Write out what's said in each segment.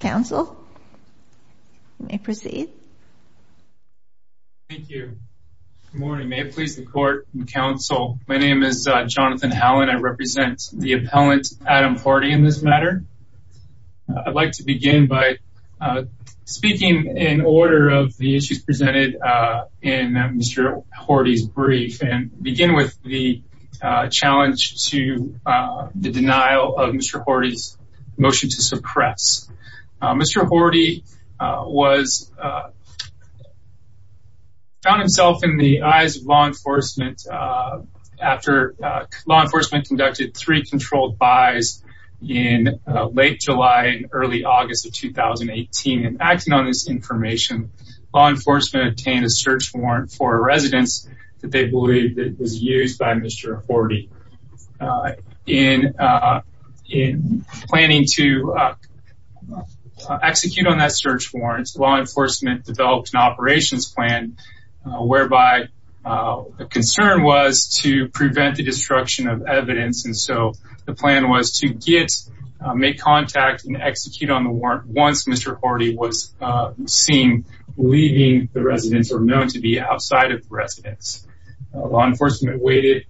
Good morning. May it please the court and counsel, my name is Jonathan Howland. I represent the appellant Adam Horty in this matter. I'd like to begin by speaking in order of the issues presented in Mr. Horty's brief and begin with the challenge to the denial of Mr. Horty's motion to suppress. Mr. Horty found himself in the eyes of law enforcement after law enforcement conducted three controlled buys in late July and early August of 2018. In acting on this information, law enforcement obtained a search warrant for a residence that they believed was used by Mr. Horty. In planning to execute on that search warrant, law enforcement developed an operations plan whereby a concern was to prevent the destruction of evidence and so the plan was to make contact and execute on the warrant once Mr. Horty was seen leaving the residence or known to be outside of the residence. Law enforcement waited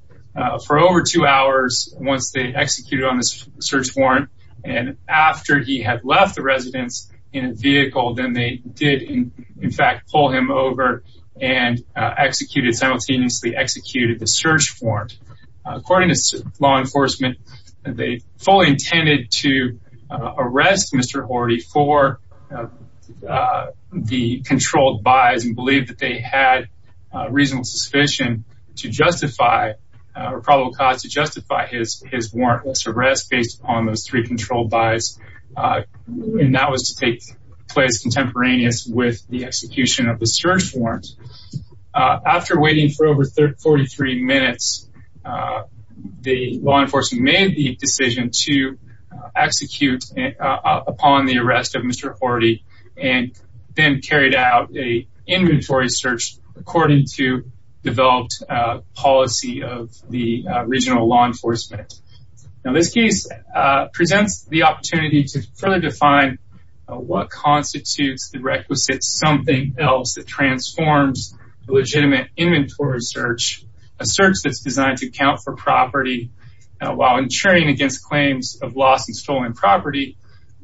for over two hours once they executed on this search warrant and after he had left the residence in a vehicle, then they did in fact pull him over and executed simultaneously executed the search warrant. According to law enforcement, they fully intended to arrest Mr. Horty for the controlled buys and believed that they had reasonable suspicion to justify or probable cause to justify his warrantless arrest based on those three controlled buys and that was to take place contemporaneous with the execution of the search warrant. After waiting for over 43 minutes, the law enforcement made the decision to execute upon the arrest of Mr. Horty and then carried out a inventory search according to developed policy of the regional law enforcement. Now this case presents the opportunity to further define what forms a legitimate inventory search, a search that's designed to account for property while insuring against claims of lost and stolen property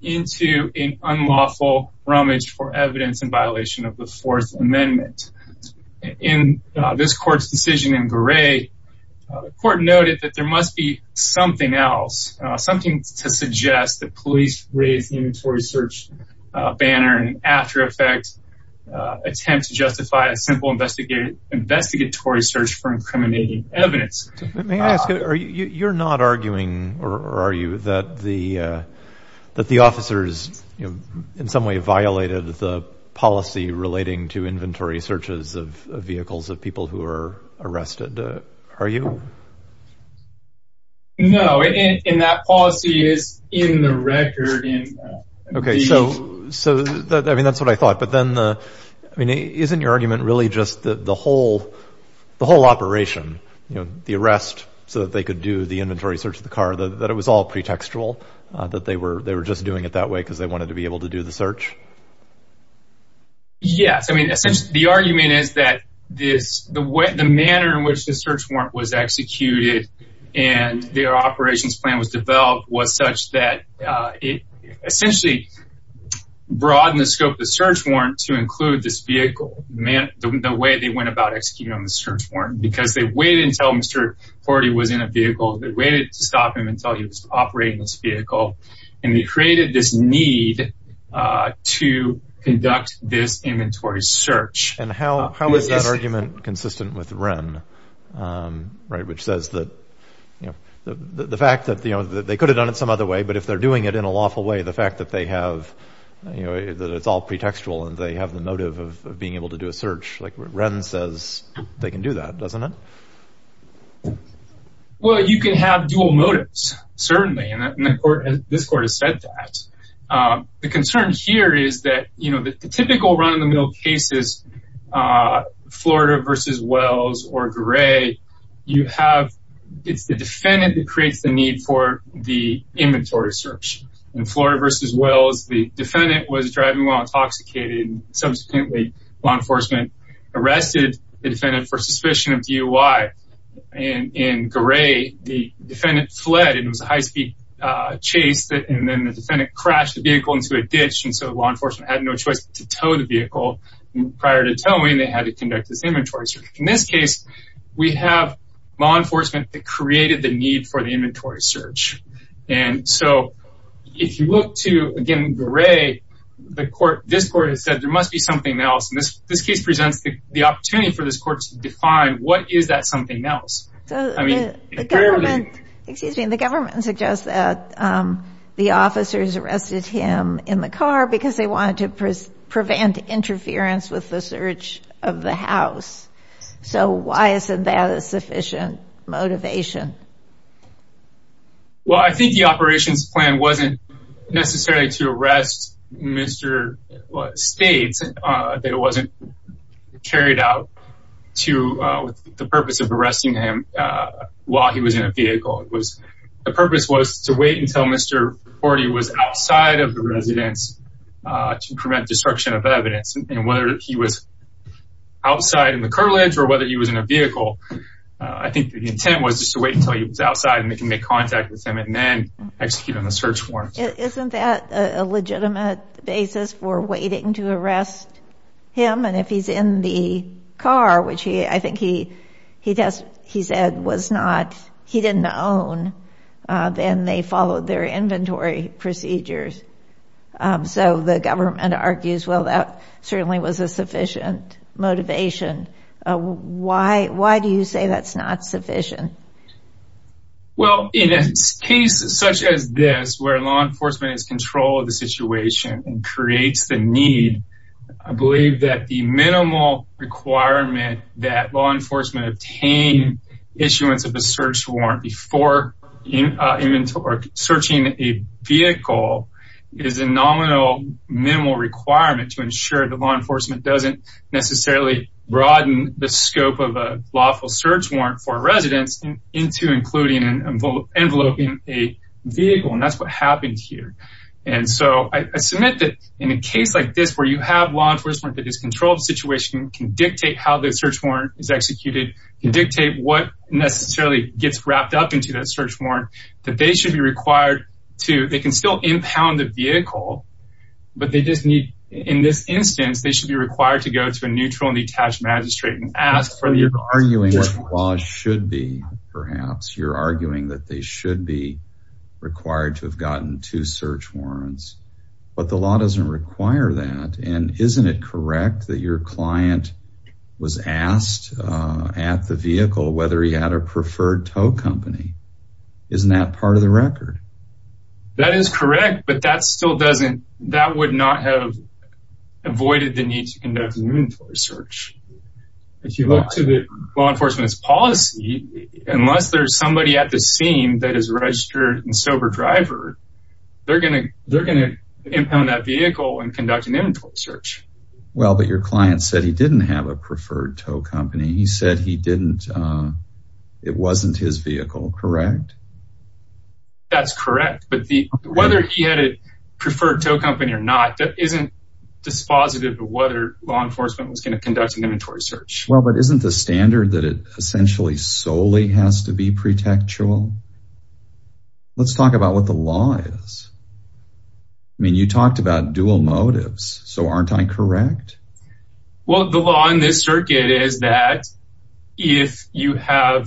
into an unlawful rummage for evidence in violation of the Fourth Amendment. In this court's decision in Goree, the court noted that there must be something else, something to suggest that police raised inventory search banner and after effects attempt to justify a simple investigative investigatory search for incriminating evidence. You're not arguing or are you that the that the officers in some way violated the policy relating to inventory searches of vehicles of people who are arrested, are you? No, and that policy is in the record. Okay, so I mean that's what I thought but then I mean isn't your argument really just that the whole the whole operation you know the arrest so that they could do the inventory search of the car that it was all pretextual that they were they were just doing it that way because they wanted to be able to do the search? Yes, I mean the argument is that this the way the manner in which the search warrant was executed and their operations plan was developed was such that it essentially broadened the scope of the search warrant to include this vehicle, the way they went about executing on the search warrant because they waited until Mr. Fordy was in a vehicle, they waited to stop him until he was operating this How is that argument consistent with Wren, right, which says that you know the fact that you know that they could have done it some other way but if they're doing it in a lawful way the fact that they have you know that it's all pretextual and they have the motive of being able to do a search like what Wren says they can do that, doesn't it? Well you can have dual motives certainly and this court has said that. The concern here is that you know the typical run-of-the-mill cases Florida versus Wells or Gray you have it's the defendant that creates the need for the inventory search. In Florida versus Wells the defendant was driving while intoxicated and subsequently law enforcement arrested the defendant for suspicion of DUI and in Gray the defendant fled and it was a high speed chase and then the defendant crashed the vehicle into a ditch and so law enforcement had no choice to tow the vehicle prior to towing they had to conduct this inventory search. In this case we have law enforcement that created the need for the inventory search and so if you look to again Gray the court this court has said there must be something else and this this case presents the opportunity for this court to define what is that something else. I mean the government the government suggests that the officers arrested him in the car because they wanted to prevent interference with the search of the house so why isn't that a sufficient motivation? Well I think the operations plan wasn't necessarily to arrest Mr. States that it wasn't carried out with the purpose of arresting him while he was in a vehicle it was the purpose was to wait until Mr. Forty was outside of the residence to prevent destruction of evidence and whether he was outside in the cartilage or whether he was in a vehicle I think the intent was just to wait until he was outside and they can make contact with him and then execute on the search warrant. Isn't that a which he I think he he does he said was not he didn't own then they followed their inventory procedures so the government argues well that certainly was a sufficient motivation why why do you say that's not sufficient? Well in a case such as this where law enforcement is control of the law enforcement obtain issuance of a search warrant before inventory searching a vehicle is a nominal minimal requirement to ensure the law enforcement doesn't necessarily broaden the scope of a lawful search warrant for residents into including an envelope in a vehicle and that's what happened here and so I submit that in a case like this where you have law enforcement that is situation can dictate how the search warrant is executed and dictate what necessarily gets wrapped up into that search warrant that they should be required to they can still impound the vehicle but they just need in this instance they should be required to go to a neutral and detached magistrate and ask for the arguing what the law should be perhaps you're arguing that they should be required to have gotten two search warrants but the law doesn't require that and isn't it correct that your client was asked at the vehicle whether he had a preferred tow company isn't that part of the record? That is correct but that still doesn't that would not have avoided the need to conduct an inventory search. If you look to the law enforcement's policy unless there's somebody at the scene that is registered and sober driver they're gonna they're gonna impound that vehicle and conduct an inventory search. Well but your client said he didn't have a preferred tow company he said he didn't it wasn't his vehicle correct? That's correct but the whether he had a preferred tow company or not that isn't dispositive of whether law enforcement was gonna conduct an inventory search. Well but isn't the standard that it essentially solely has to be pre-tactual? Let's talked about dual motives so aren't I correct? Well the law in this circuit is that if you have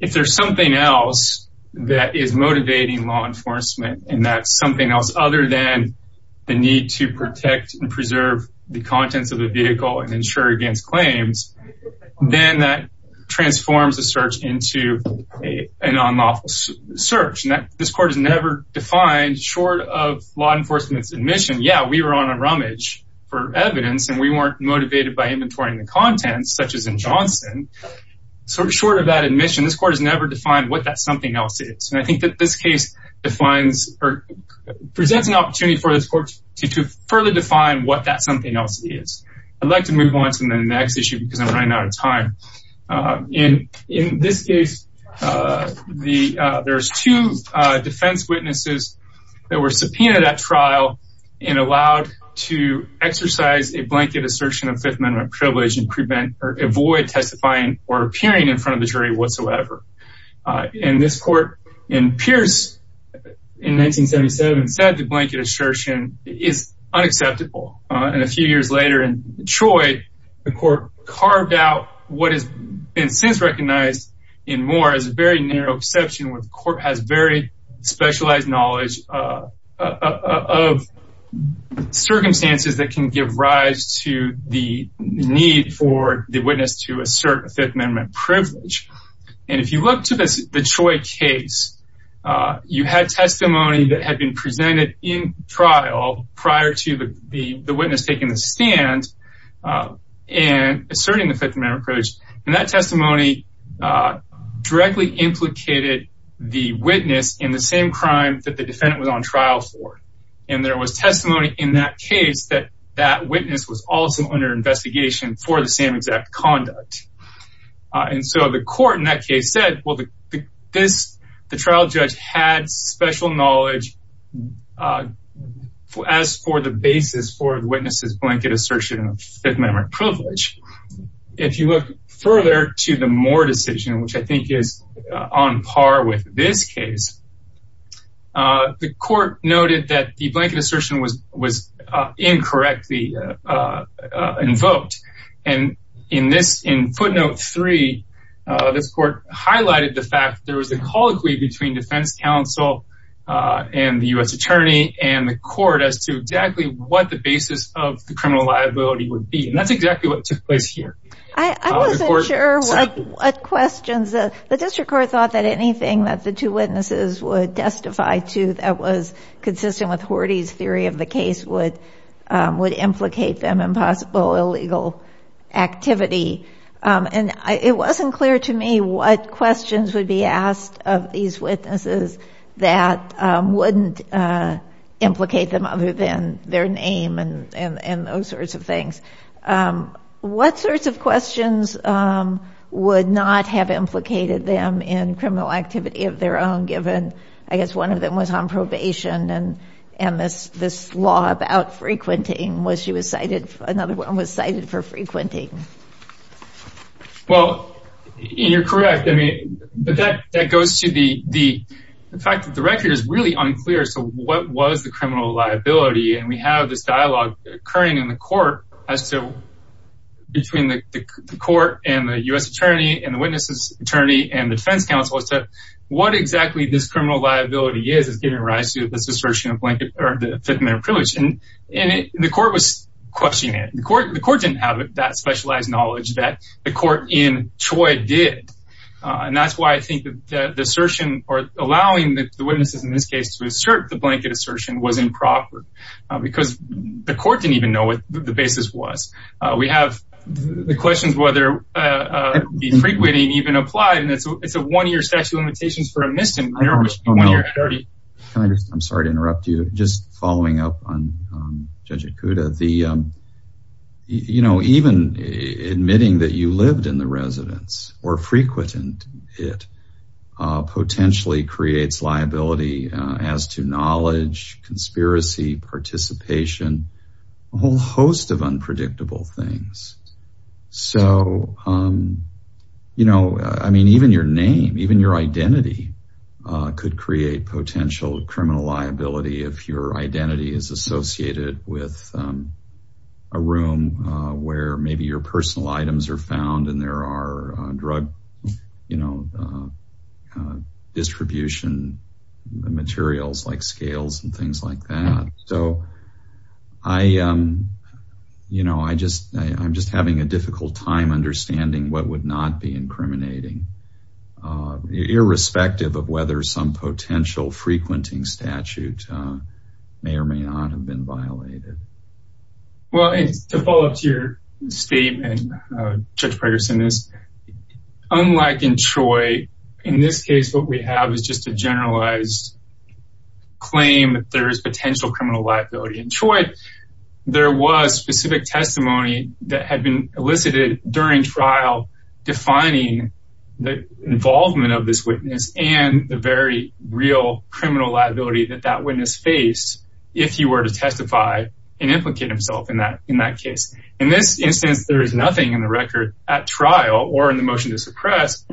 if there's something else that is motivating law enforcement and that's something else other than the need to protect and preserve the contents of the vehicle and ensure against claims then that short of law enforcement's admission yeah we were on a rummage for evidence and we weren't motivated by inventorying the contents such as in Johnson so short of that admission this court has never defined what that something else is and I think that this case defines or presents an opportunity for this court to further define what that something else is. I'd like to move on to the next issue because I'm running out of time. In this case the there's two defense witnesses that were subpoenaed at trial and allowed to exercise a blanket assertion of Fifth Amendment privilege and prevent or avoid testifying or appearing in front of the jury whatsoever. In this court in in 1977 said the blanket assertion is unacceptable and a few years later in Detroit the court carved out what has been since recognized in Moore as a very narrow exception with court has very specialized knowledge of circumstances that can give rise to the need for the witness to assert Fifth Amendment privilege and if you look to this Detroit case you had testimony that had been presented in trial prior to the witness taking the stand and asserting the Fifth Amendment privilege and that testimony directly implicated the witness in the same crime that the defendant was on trial for and there was testimony in that case that that witness was also under investigation for the same exact conduct and so the court in that case said well the trial judge had special knowledge as for the basis for witnesses blanket assertion of Fifth Amendment privilege. If you look further to the Moore decision which I think is on par with this case the court noted that the and in this in footnote three this court highlighted the fact there was a colloquy between defense counsel and the U.S. attorney and the court as to exactly what the basis of the criminal liability would be and that's exactly what took place here. I wasn't sure what questions the district court thought that anything that the two witnesses would testify to that was consistent with Horty's theory of the case would would implicate them in possible illegal activity and it wasn't clear to me what questions would be asked of these witnesses that wouldn't implicate them other than their name and and those sorts of things. What sorts of questions would not have implicated them in criminal activity of their own given I guess one of them was on probation and and this this law about frequenting was she was cited another one was cited for frequenting. Well you're correct I mean but that that goes to the the fact that the record is really unclear so what was the criminal liability and we have this dialogue occurring in the court as to between the court and the U.S. attorney and the witnesses attorney and the defense counsel is that what exactly this criminal liability is is giving rise to a blanket or the fifth minute privilege and and the court was questioning it the court the court didn't have that specialized knowledge that the court in Troy did and that's why I think that the assertion or allowing the witnesses in this case to assert the blanket assertion was improper because the court didn't even know what the basis was. We have the questions whether the frequenting even applied and it's it's a one-year statute of limitations for a misdemeanor I'm sorry to interrupt you just following up on Judge Ikuda the you know even admitting that you lived in the residence or frequent it potentially creates liability as to knowledge conspiracy participation a whole host of unpredictable things so you know I mean even your name even your identity could create potential criminal liability if your identity is associated with a room where maybe your personal items are found and there are drug you know distribution materials like scales and things like that so I you know I just I'm just having a difficult time understanding what would not be incriminating irrespective of whether some potential frequenting statute may or may not have been violated. Well it's to follow up to your statement Judge Progerson is unlike in Troy in this case what we have is just a generalized claim that there is potential criminal liability in Troy there was specific testimony that had been elicited during trial defining the involvement of this witness and the very real criminal liability that that witness faced if he were to testify and implicate himself in that in that case in this instance there is nothing in the record at trial or in the motion to suppress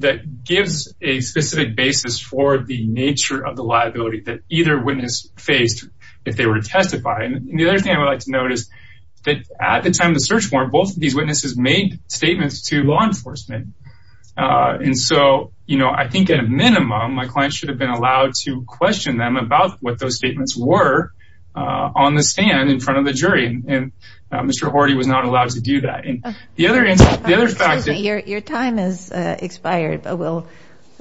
that gives a specific basis for the nature of liability that either witness faced if they were to testify and the other thing I would like to notice that at the time of the search warrant both of these witnesses made statements to law enforcement and so you know I think at a minimum my client should have been allowed to question them about what those statements were on the stand in front of the jury and Mr. Horty was not allowed to do that and the other answer the other fact your time has expired but we'll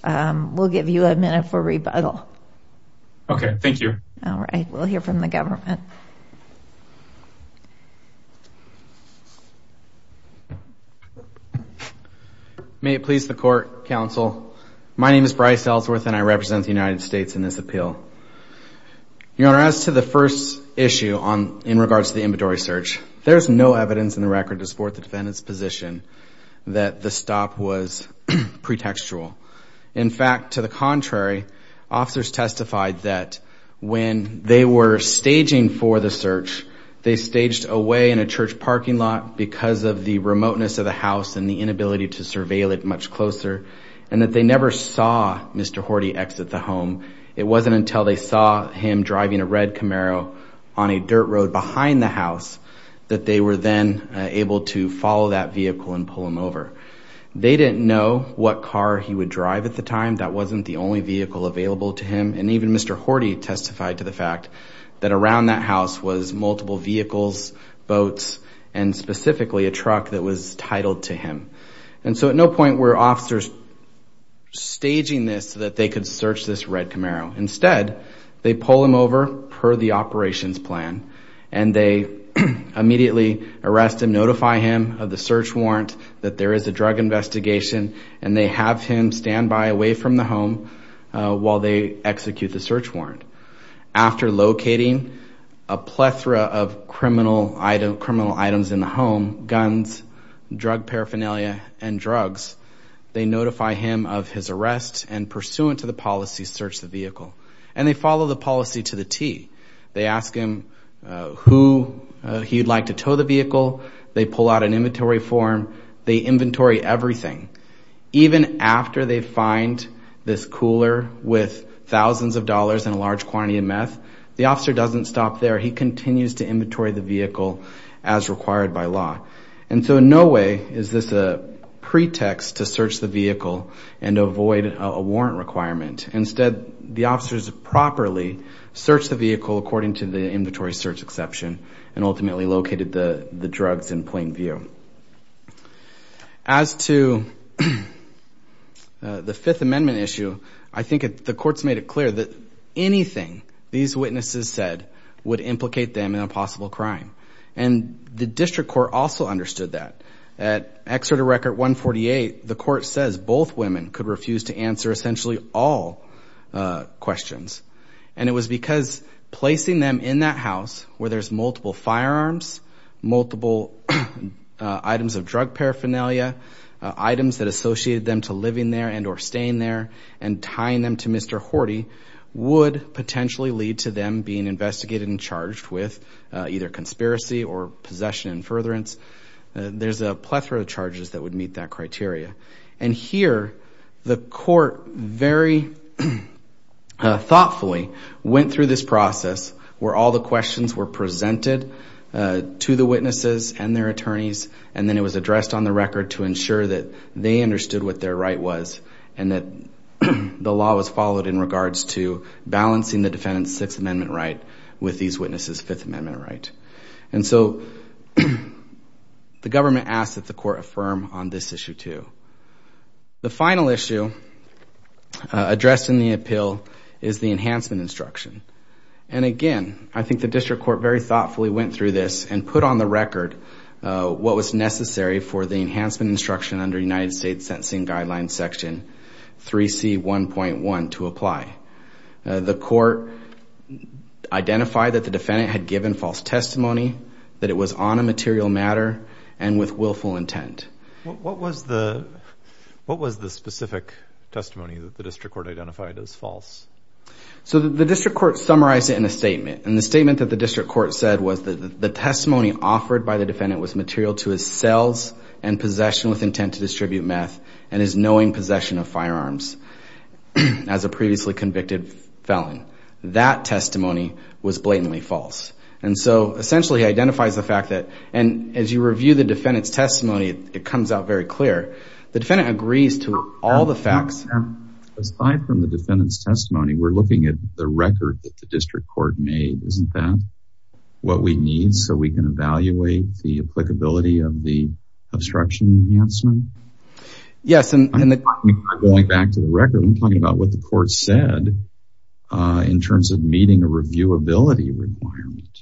we'll give you a minute for rebuttal okay thank you all right we'll hear from the government may it please the court counsel my name is Bryce Ellsworth and I represent the United States in this appeal your honor as to the first issue on in regards to the inventory search there's no evidence in the record to support the defendant's position that the stop was pretextual in fact to the contrary officers testified that when they were staging for the search they staged away in a church parking lot because of the remoteness of the house and the inability to surveil it much closer and that they never saw Mr. Horty exit the home it wasn't until they saw him driving a red Camaro on a dirt road behind the house that they were then able to follow that vehicle and pull him over they didn't know what car he would drive at the time that wasn't the only vehicle available to him and even Mr. Horty testified to the fact that around that house was multiple vehicles boats and specifically a truck that was titled to him and so at no point were officers staging this so that they could search this red Camaro instead they pull him over per the operations plan and they immediately arrest and notify him of the search warrant that there is a drug investigation and they have him stand by away from the home while they execute the search warrant after locating a plethora of criminal item criminal items in the home guns drug paraphernalia and drugs they notify him of his arrest and pursuant to the policy search the vehicle and they follow the policy to the t they ask him who he'd like to tow the vehicle they pull out an inventory form they inventory everything even after they find this cooler with thousands of dollars in a large quantity of meth the officer doesn't stop there he continues to inventory the vehicle as required by law and so in no way is this a pretext to search the vehicle and avoid a warrant requirement instead the officers properly search the vehicle according to the inventory search exception and ultimately located the the drugs in plain view as to the fifth amendment issue i think the courts made it clear that anything these witnesses said would implicate them in a possible crime and the district court also understood that at excerpt a record 148 the court says both women could refuse to answer essentially all questions and it was because placing them in that house where there's multiple firearms multiple items of drug paraphernalia items that associated them to living there and or staying there and tying them to mr horty would potentially lead to them being investigated and charged with either conspiracy or possession and furtherance there's a plethora of charges that would meet that criteria and here the court very thoughtfully went through this process where all the questions were presented to the witnesses and their attorneys and then it was addressed on the record to ensure that they understood what their right was and that the law was followed in regards to balancing the defendant's sixth amendment right with these witnesses fifth amendment right and so the government asked that the court affirm on this issue too the final issue addressed in the appeal is the enhancement instruction and again i think the district court very thoughtfully went through this and put on the record what was necessary for the enhancement instruction under united states sentencing guidelines section 3c 1.1 to apply the court identified that the defendant had given false testimony that it was on a material matter and with willful intent what was the what was the specific testimony that the district court identified as false so the district court summarized it in a statement and the statement that the district court said was that the testimony offered by the defendant was material to his cells and possession with intent to knowing possession of firearms as a previously convicted felon that testimony was blatantly false and so essentially identifies the fact that and as you review the defendant's testimony it comes out very clear the defendant agrees to all the facts aside from the defendant's testimony we're looking at the record that the district court made isn't that what we need so we can the obstruction enhancement yes and going back to the record i'm talking about what the court said in terms of meeting a reviewability requirement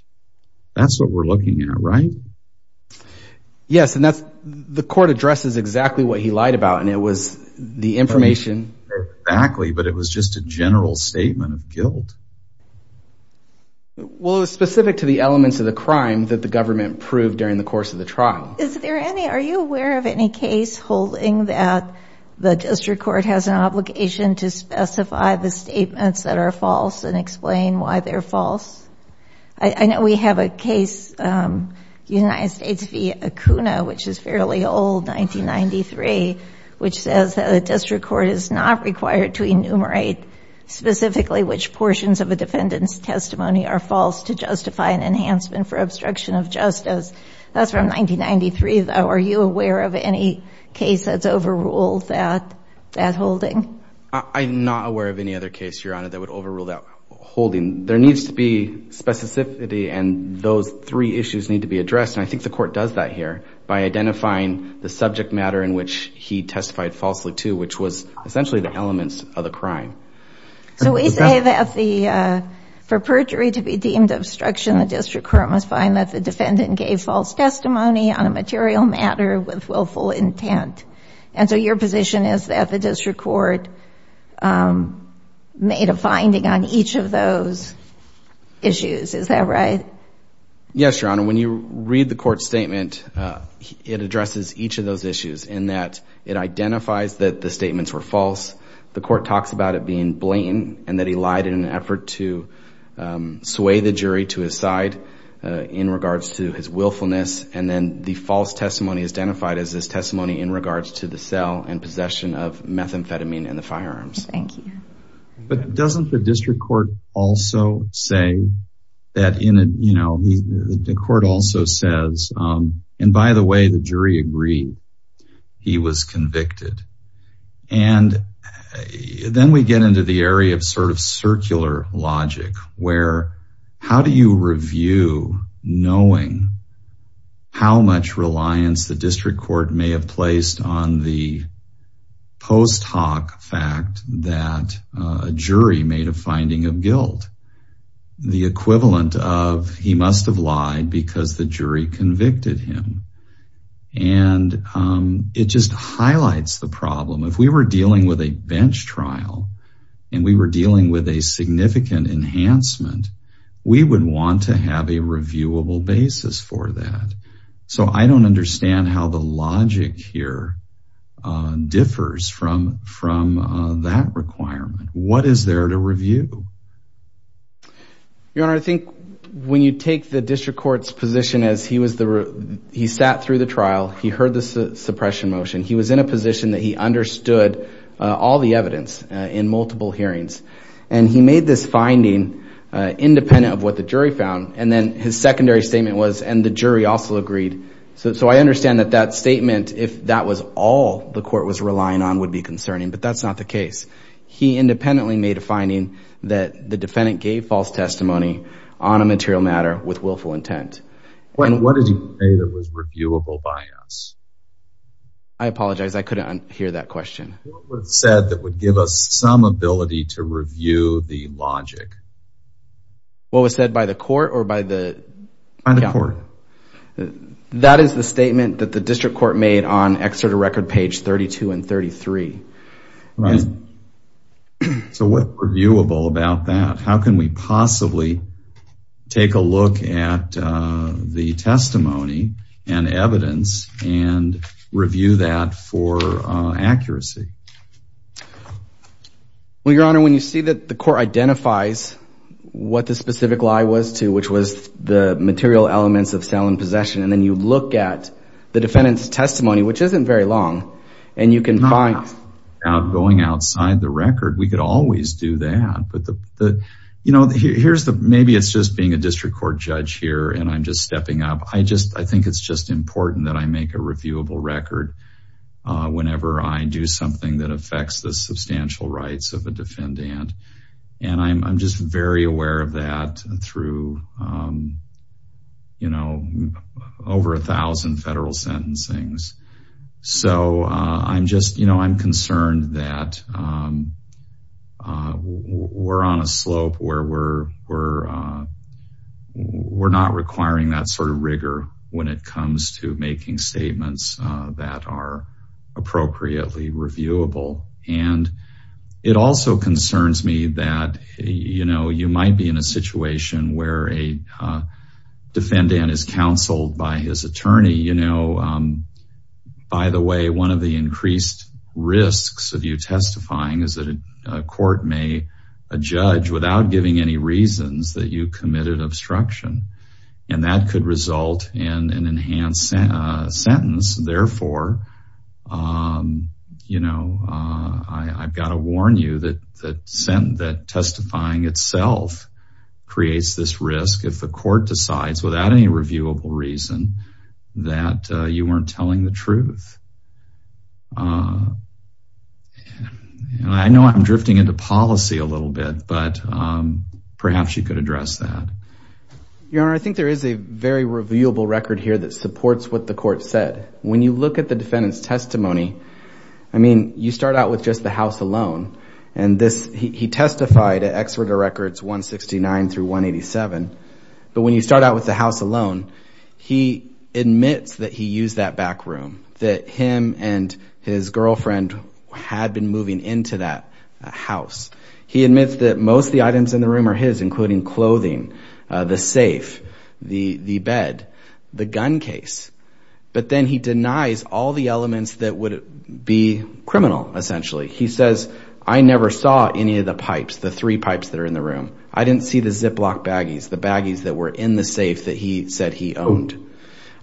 that's what we're looking at right yes and that's the court addresses exactly what he lied about and it was the information exactly but it was just a general statement of guilt well it was specific to the elements of the crime that the government proved during the trial is there any are you aware of any case holding that the district court has an obligation to specify the statements that are false and explain why they're false i know we have a case united states v akuna which is fairly old 1993 which says that the district court is not required to enumerate specifically which portions of a defendant's testimony are false to justify an for obstruction of justice that's from 1993 though are you aware of any case that's overruled that that holding i'm not aware of any other case your honor that would overrule that holding there needs to be specificity and those three issues need to be addressed and i think the court does that here by identifying the subject matter in which he testified falsely too which was essentially the elements of the crime so we say that the uh for perjury to be deemed obstruction the district court must find that the defendant gave false testimony on a material matter with willful intent and so your position is that the district court um made a finding on each of those issues is that right yes your honor when you read the court statement uh it addresses each of those issues in that it identifies that the statements were false the court talks about it being blatant and that he lied in an effort to sway the jury to his side in regards to his willfulness and then the false testimony is identified as this testimony in regards to the cell and possession of methamphetamine and the firearms thank you but doesn't the district court also say that in a you know the court also says um and by the way the jury agreed he was convicted and then we get into the area of sort of circular logic where how do you review knowing how much reliance the district court may have placed on the post hoc fact that a jury made a finding of guilt the equivalent of he must have lied because the jury convicted him and um it just highlights the problem if we were and we were dealing with a significant enhancement we would want to have a reviewable basis for that so i don't understand how the logic here uh differs from from that requirement what is there to review your honor i think when you take the district court's position as he was the he sat through the trial he heard the suppression motion he was in a position that he understood all the evidence in multiple hearings and he made this finding uh independent of what the jury found and then his secondary statement was and the jury also agreed so i understand that that statement if that was all the court was relying on would be concerning but that's not the case he independently made a finding that the defendant gave false testimony on a material matter with willful intent and what did he say that was reviewable by us i apologize i couldn't hear that question what was said that would give us some ability to review the logic what was said by the court or by the by the court that is the statement that the district court made on excerpt record page 32 and 33 right so what reviewable about that how can we possibly take a look at the testimony and evidence and review that for accuracy well your honor when you see that the court identifies what the specific lie was to which was the material elements of sale and possession and then you look at the defendant's testimony which isn't very long and you can find out going outside the record we could always do that but the you know here's the maybe it's just being a district court judge here and i'm just stepping up i just i think it's just important that i make a reviewable record whenever i do something that affects the substantial rights of a defendant and i'm just very aware of that through um you know over a thousand federal sentencings so i'm just you know i'm concerned that um uh we're on a slope where we're we're uh we're not requiring that sort of rigor when it comes to making statements that are appropriately reviewable and it also concerns me that you know you might be in a situation where a defendant is counseled by his attorney you know um by the way one of the increased risks of you testifying is that a court may a judge without giving any reasons that you committed obstruction and that could result in an enhanced sentence therefore um you know uh i i've got to warn you that that sent that testifying itself creates this risk if the court decides without any reviewable reason that you weren't telling the truth uh i know i'm drifting into policy a little bit but um perhaps you could address that your honor i think there is a very reviewable record here that supports what the court said when you look at the defendant's testimony i mean you start out with just the house alone and this he testified at exeter records 169 through 187 but when you start out with the house alone he admits that he used that back room that him and his girlfriend had been moving into that house he admits that most the items in the room are his including clothing uh the safe the the bed the gun case but then he denies all the elements that would be criminal essentially he says i never saw any of the pipes the three pipes that are in the room i didn't see the ziploc baggies the baggies that were in the safe that he said he owned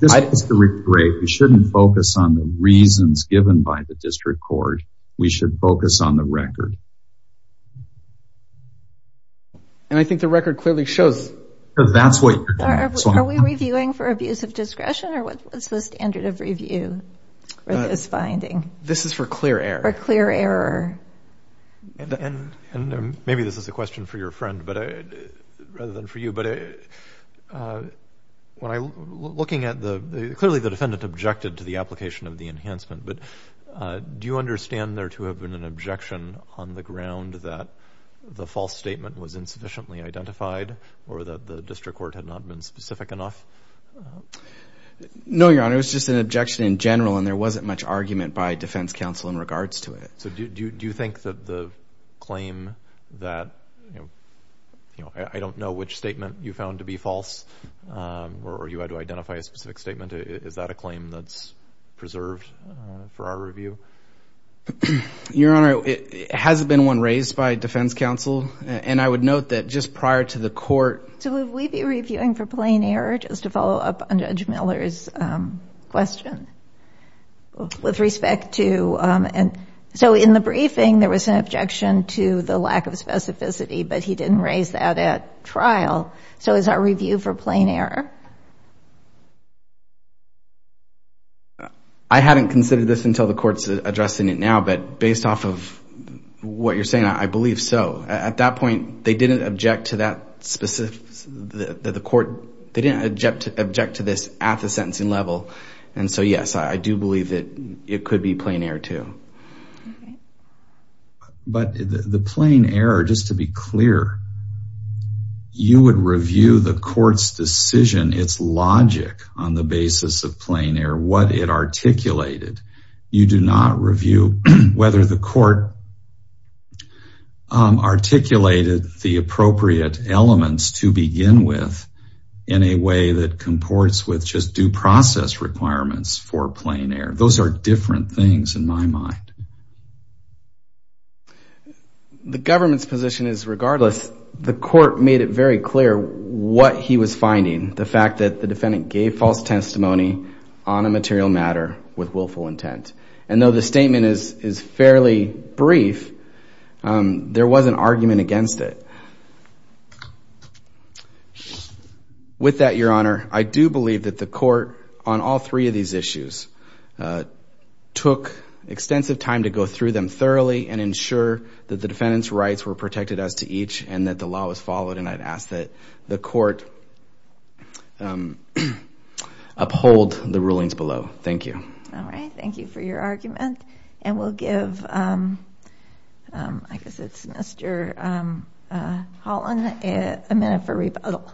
this is great you shouldn't focus on the reasons given by the district court we should focus on the record and i think the record clearly shows that's what are we reviewing for abuse of discretion or what's the standard of and and maybe this is a question for your friend but rather than for you but when i looking at the clearly the defendant objected to the application of the enhancement but do you understand there to have been an objection on the ground that the false statement was insufficiently identified or that the district court had not been specific enough no your honor it was just an objection in general and there wasn't much argument by defense counsel in regards to it so do you do you think that the claim that you know i don't know which statement you found to be false or you had to identify a specific statement is that a claim that's preserved for our review your honor it hasn't been one raised by defense counsel and i would note that just prior to the court so would we be reviewing for plain error just to follow up on miller's um question with respect to um and so in the briefing there was an objection to the lack of specificity but he didn't raise that at trial so is our review for plain error i hadn't considered this until the court's addressing it now but based off of what you're saying i believe so at that point they didn't object to that specific the court they didn't object to this at the sentencing level and so yes i do believe that it could be plain air too but the plain error just to be clear you would review the court's decision its logic on the basis of plain air what it articulated you do not review whether the court um articulated the appropriate elements to begin with in a way that comports with just due process requirements for plain air those are different things in my mind the government's position is regardless the court made it very clear what he was finding the fact that the defendant gave false testimony on a material matter with willful intent and though the statement is is fairly brief um there was an argument against it with that your honor i do believe that the court on all three of these issues took extensive time to go through them thoroughly and ensure that the defendant's rights were protected as to each and that the law was followed and i'd ask that the court um uphold the rulings below thank you all right thank you for your argument and we'll give um um i guess it's mr um uh holland a minute for rebuttal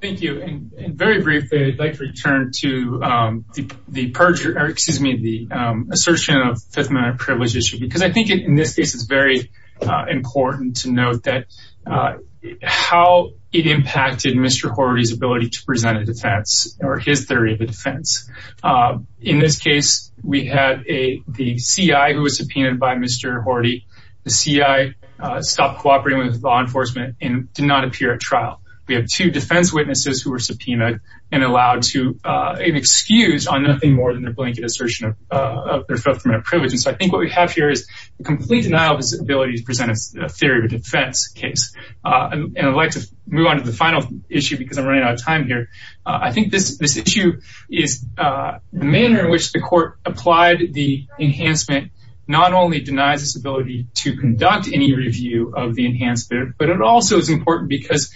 thank you and very briefly i'd like to return to um the perjure excuse me the um assertion of fifth minor privilege issue because i think in this case it's very uh important to note that uh how it impacted mr horty's ability to present a defense or his theory of the defense in this case we had a the c.i who was subpoenaed by mr horty the c.i uh stopped cooperating with law enforcement and did not appear at trial we have two defense witnesses who were subpoenaed and allowed to uh an excuse on nothing more than their blanket assertion of uh of their fulfillment of privilege and so i think what we have here is the complete denial of his ability to present a theory of defense case uh and i'd like to move on to the final issue because i'm running out of time here i think this this issue is uh the manner in which the court applied the enhancement not only denies this ability to conduct any review of the enhancement but it also is important because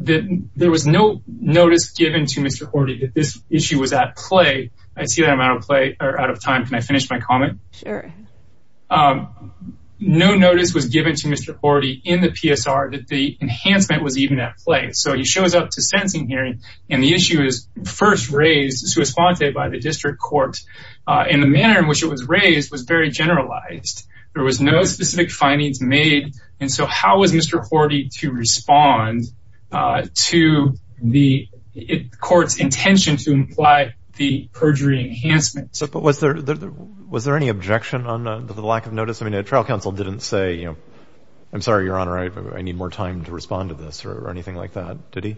that there was no notice given to mr horty that this issue was at play i given to mr horty in the psr that the enhancement was even at play so he shows up to sentencing hearing and the issue is first raised to respond to it by the district court uh in the manner in which it was raised was very generalized there was no specific findings made and so how was mr horty to respond uh to the court's intention to imply the perjury enhancement but was there there was any objection on the lack of notice i mean a trial counsel didn't say you know i'm sorry your honor i need more time to respond to this or anything like that did he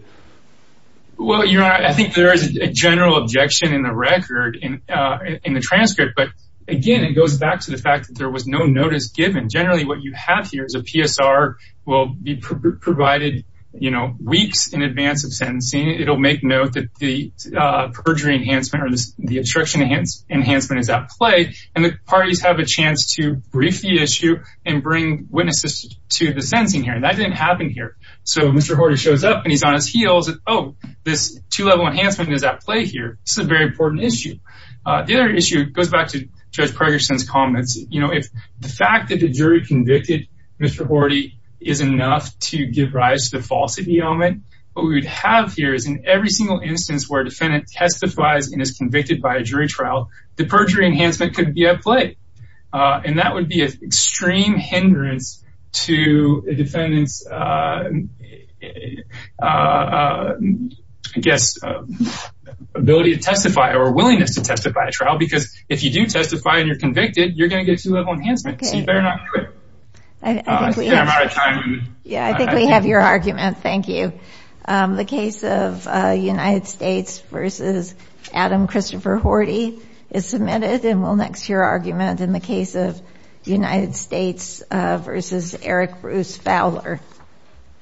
well your honor i think there is a general objection in the record in uh in the transcript but again it goes back to the fact that there was no notice given generally what you have here is a psr will be provided you know weeks in advance of sentencing it'll make note that the uh perjury enhancement or the enhancement is at play and the parties have a chance to brief the issue and bring witnesses to the sentencing hearing that didn't happen here so mr horty shows up and he's on his heels oh this two-level enhancement is at play here this is a very important issue uh the other issue goes back to judge pergerson's comments you know if the fact that the jury convicted mr horty is enough to give rise to the falsity element what we would have here is in every single instance where defendant testifies and is convicted by a jury trial the perjury enhancement could be at play and that would be an extreme hindrance to a defendant's uh i guess ability to testify or willingness to testify trial because if you do testify and you're convicted you're going to get two level enhancements you better not do it i think we have our time yeah i think we have your argument thank you um the case of uh united states versus adam christopher horty is submitted and we'll next your argument in the case of the united states uh versus eric bruce fowler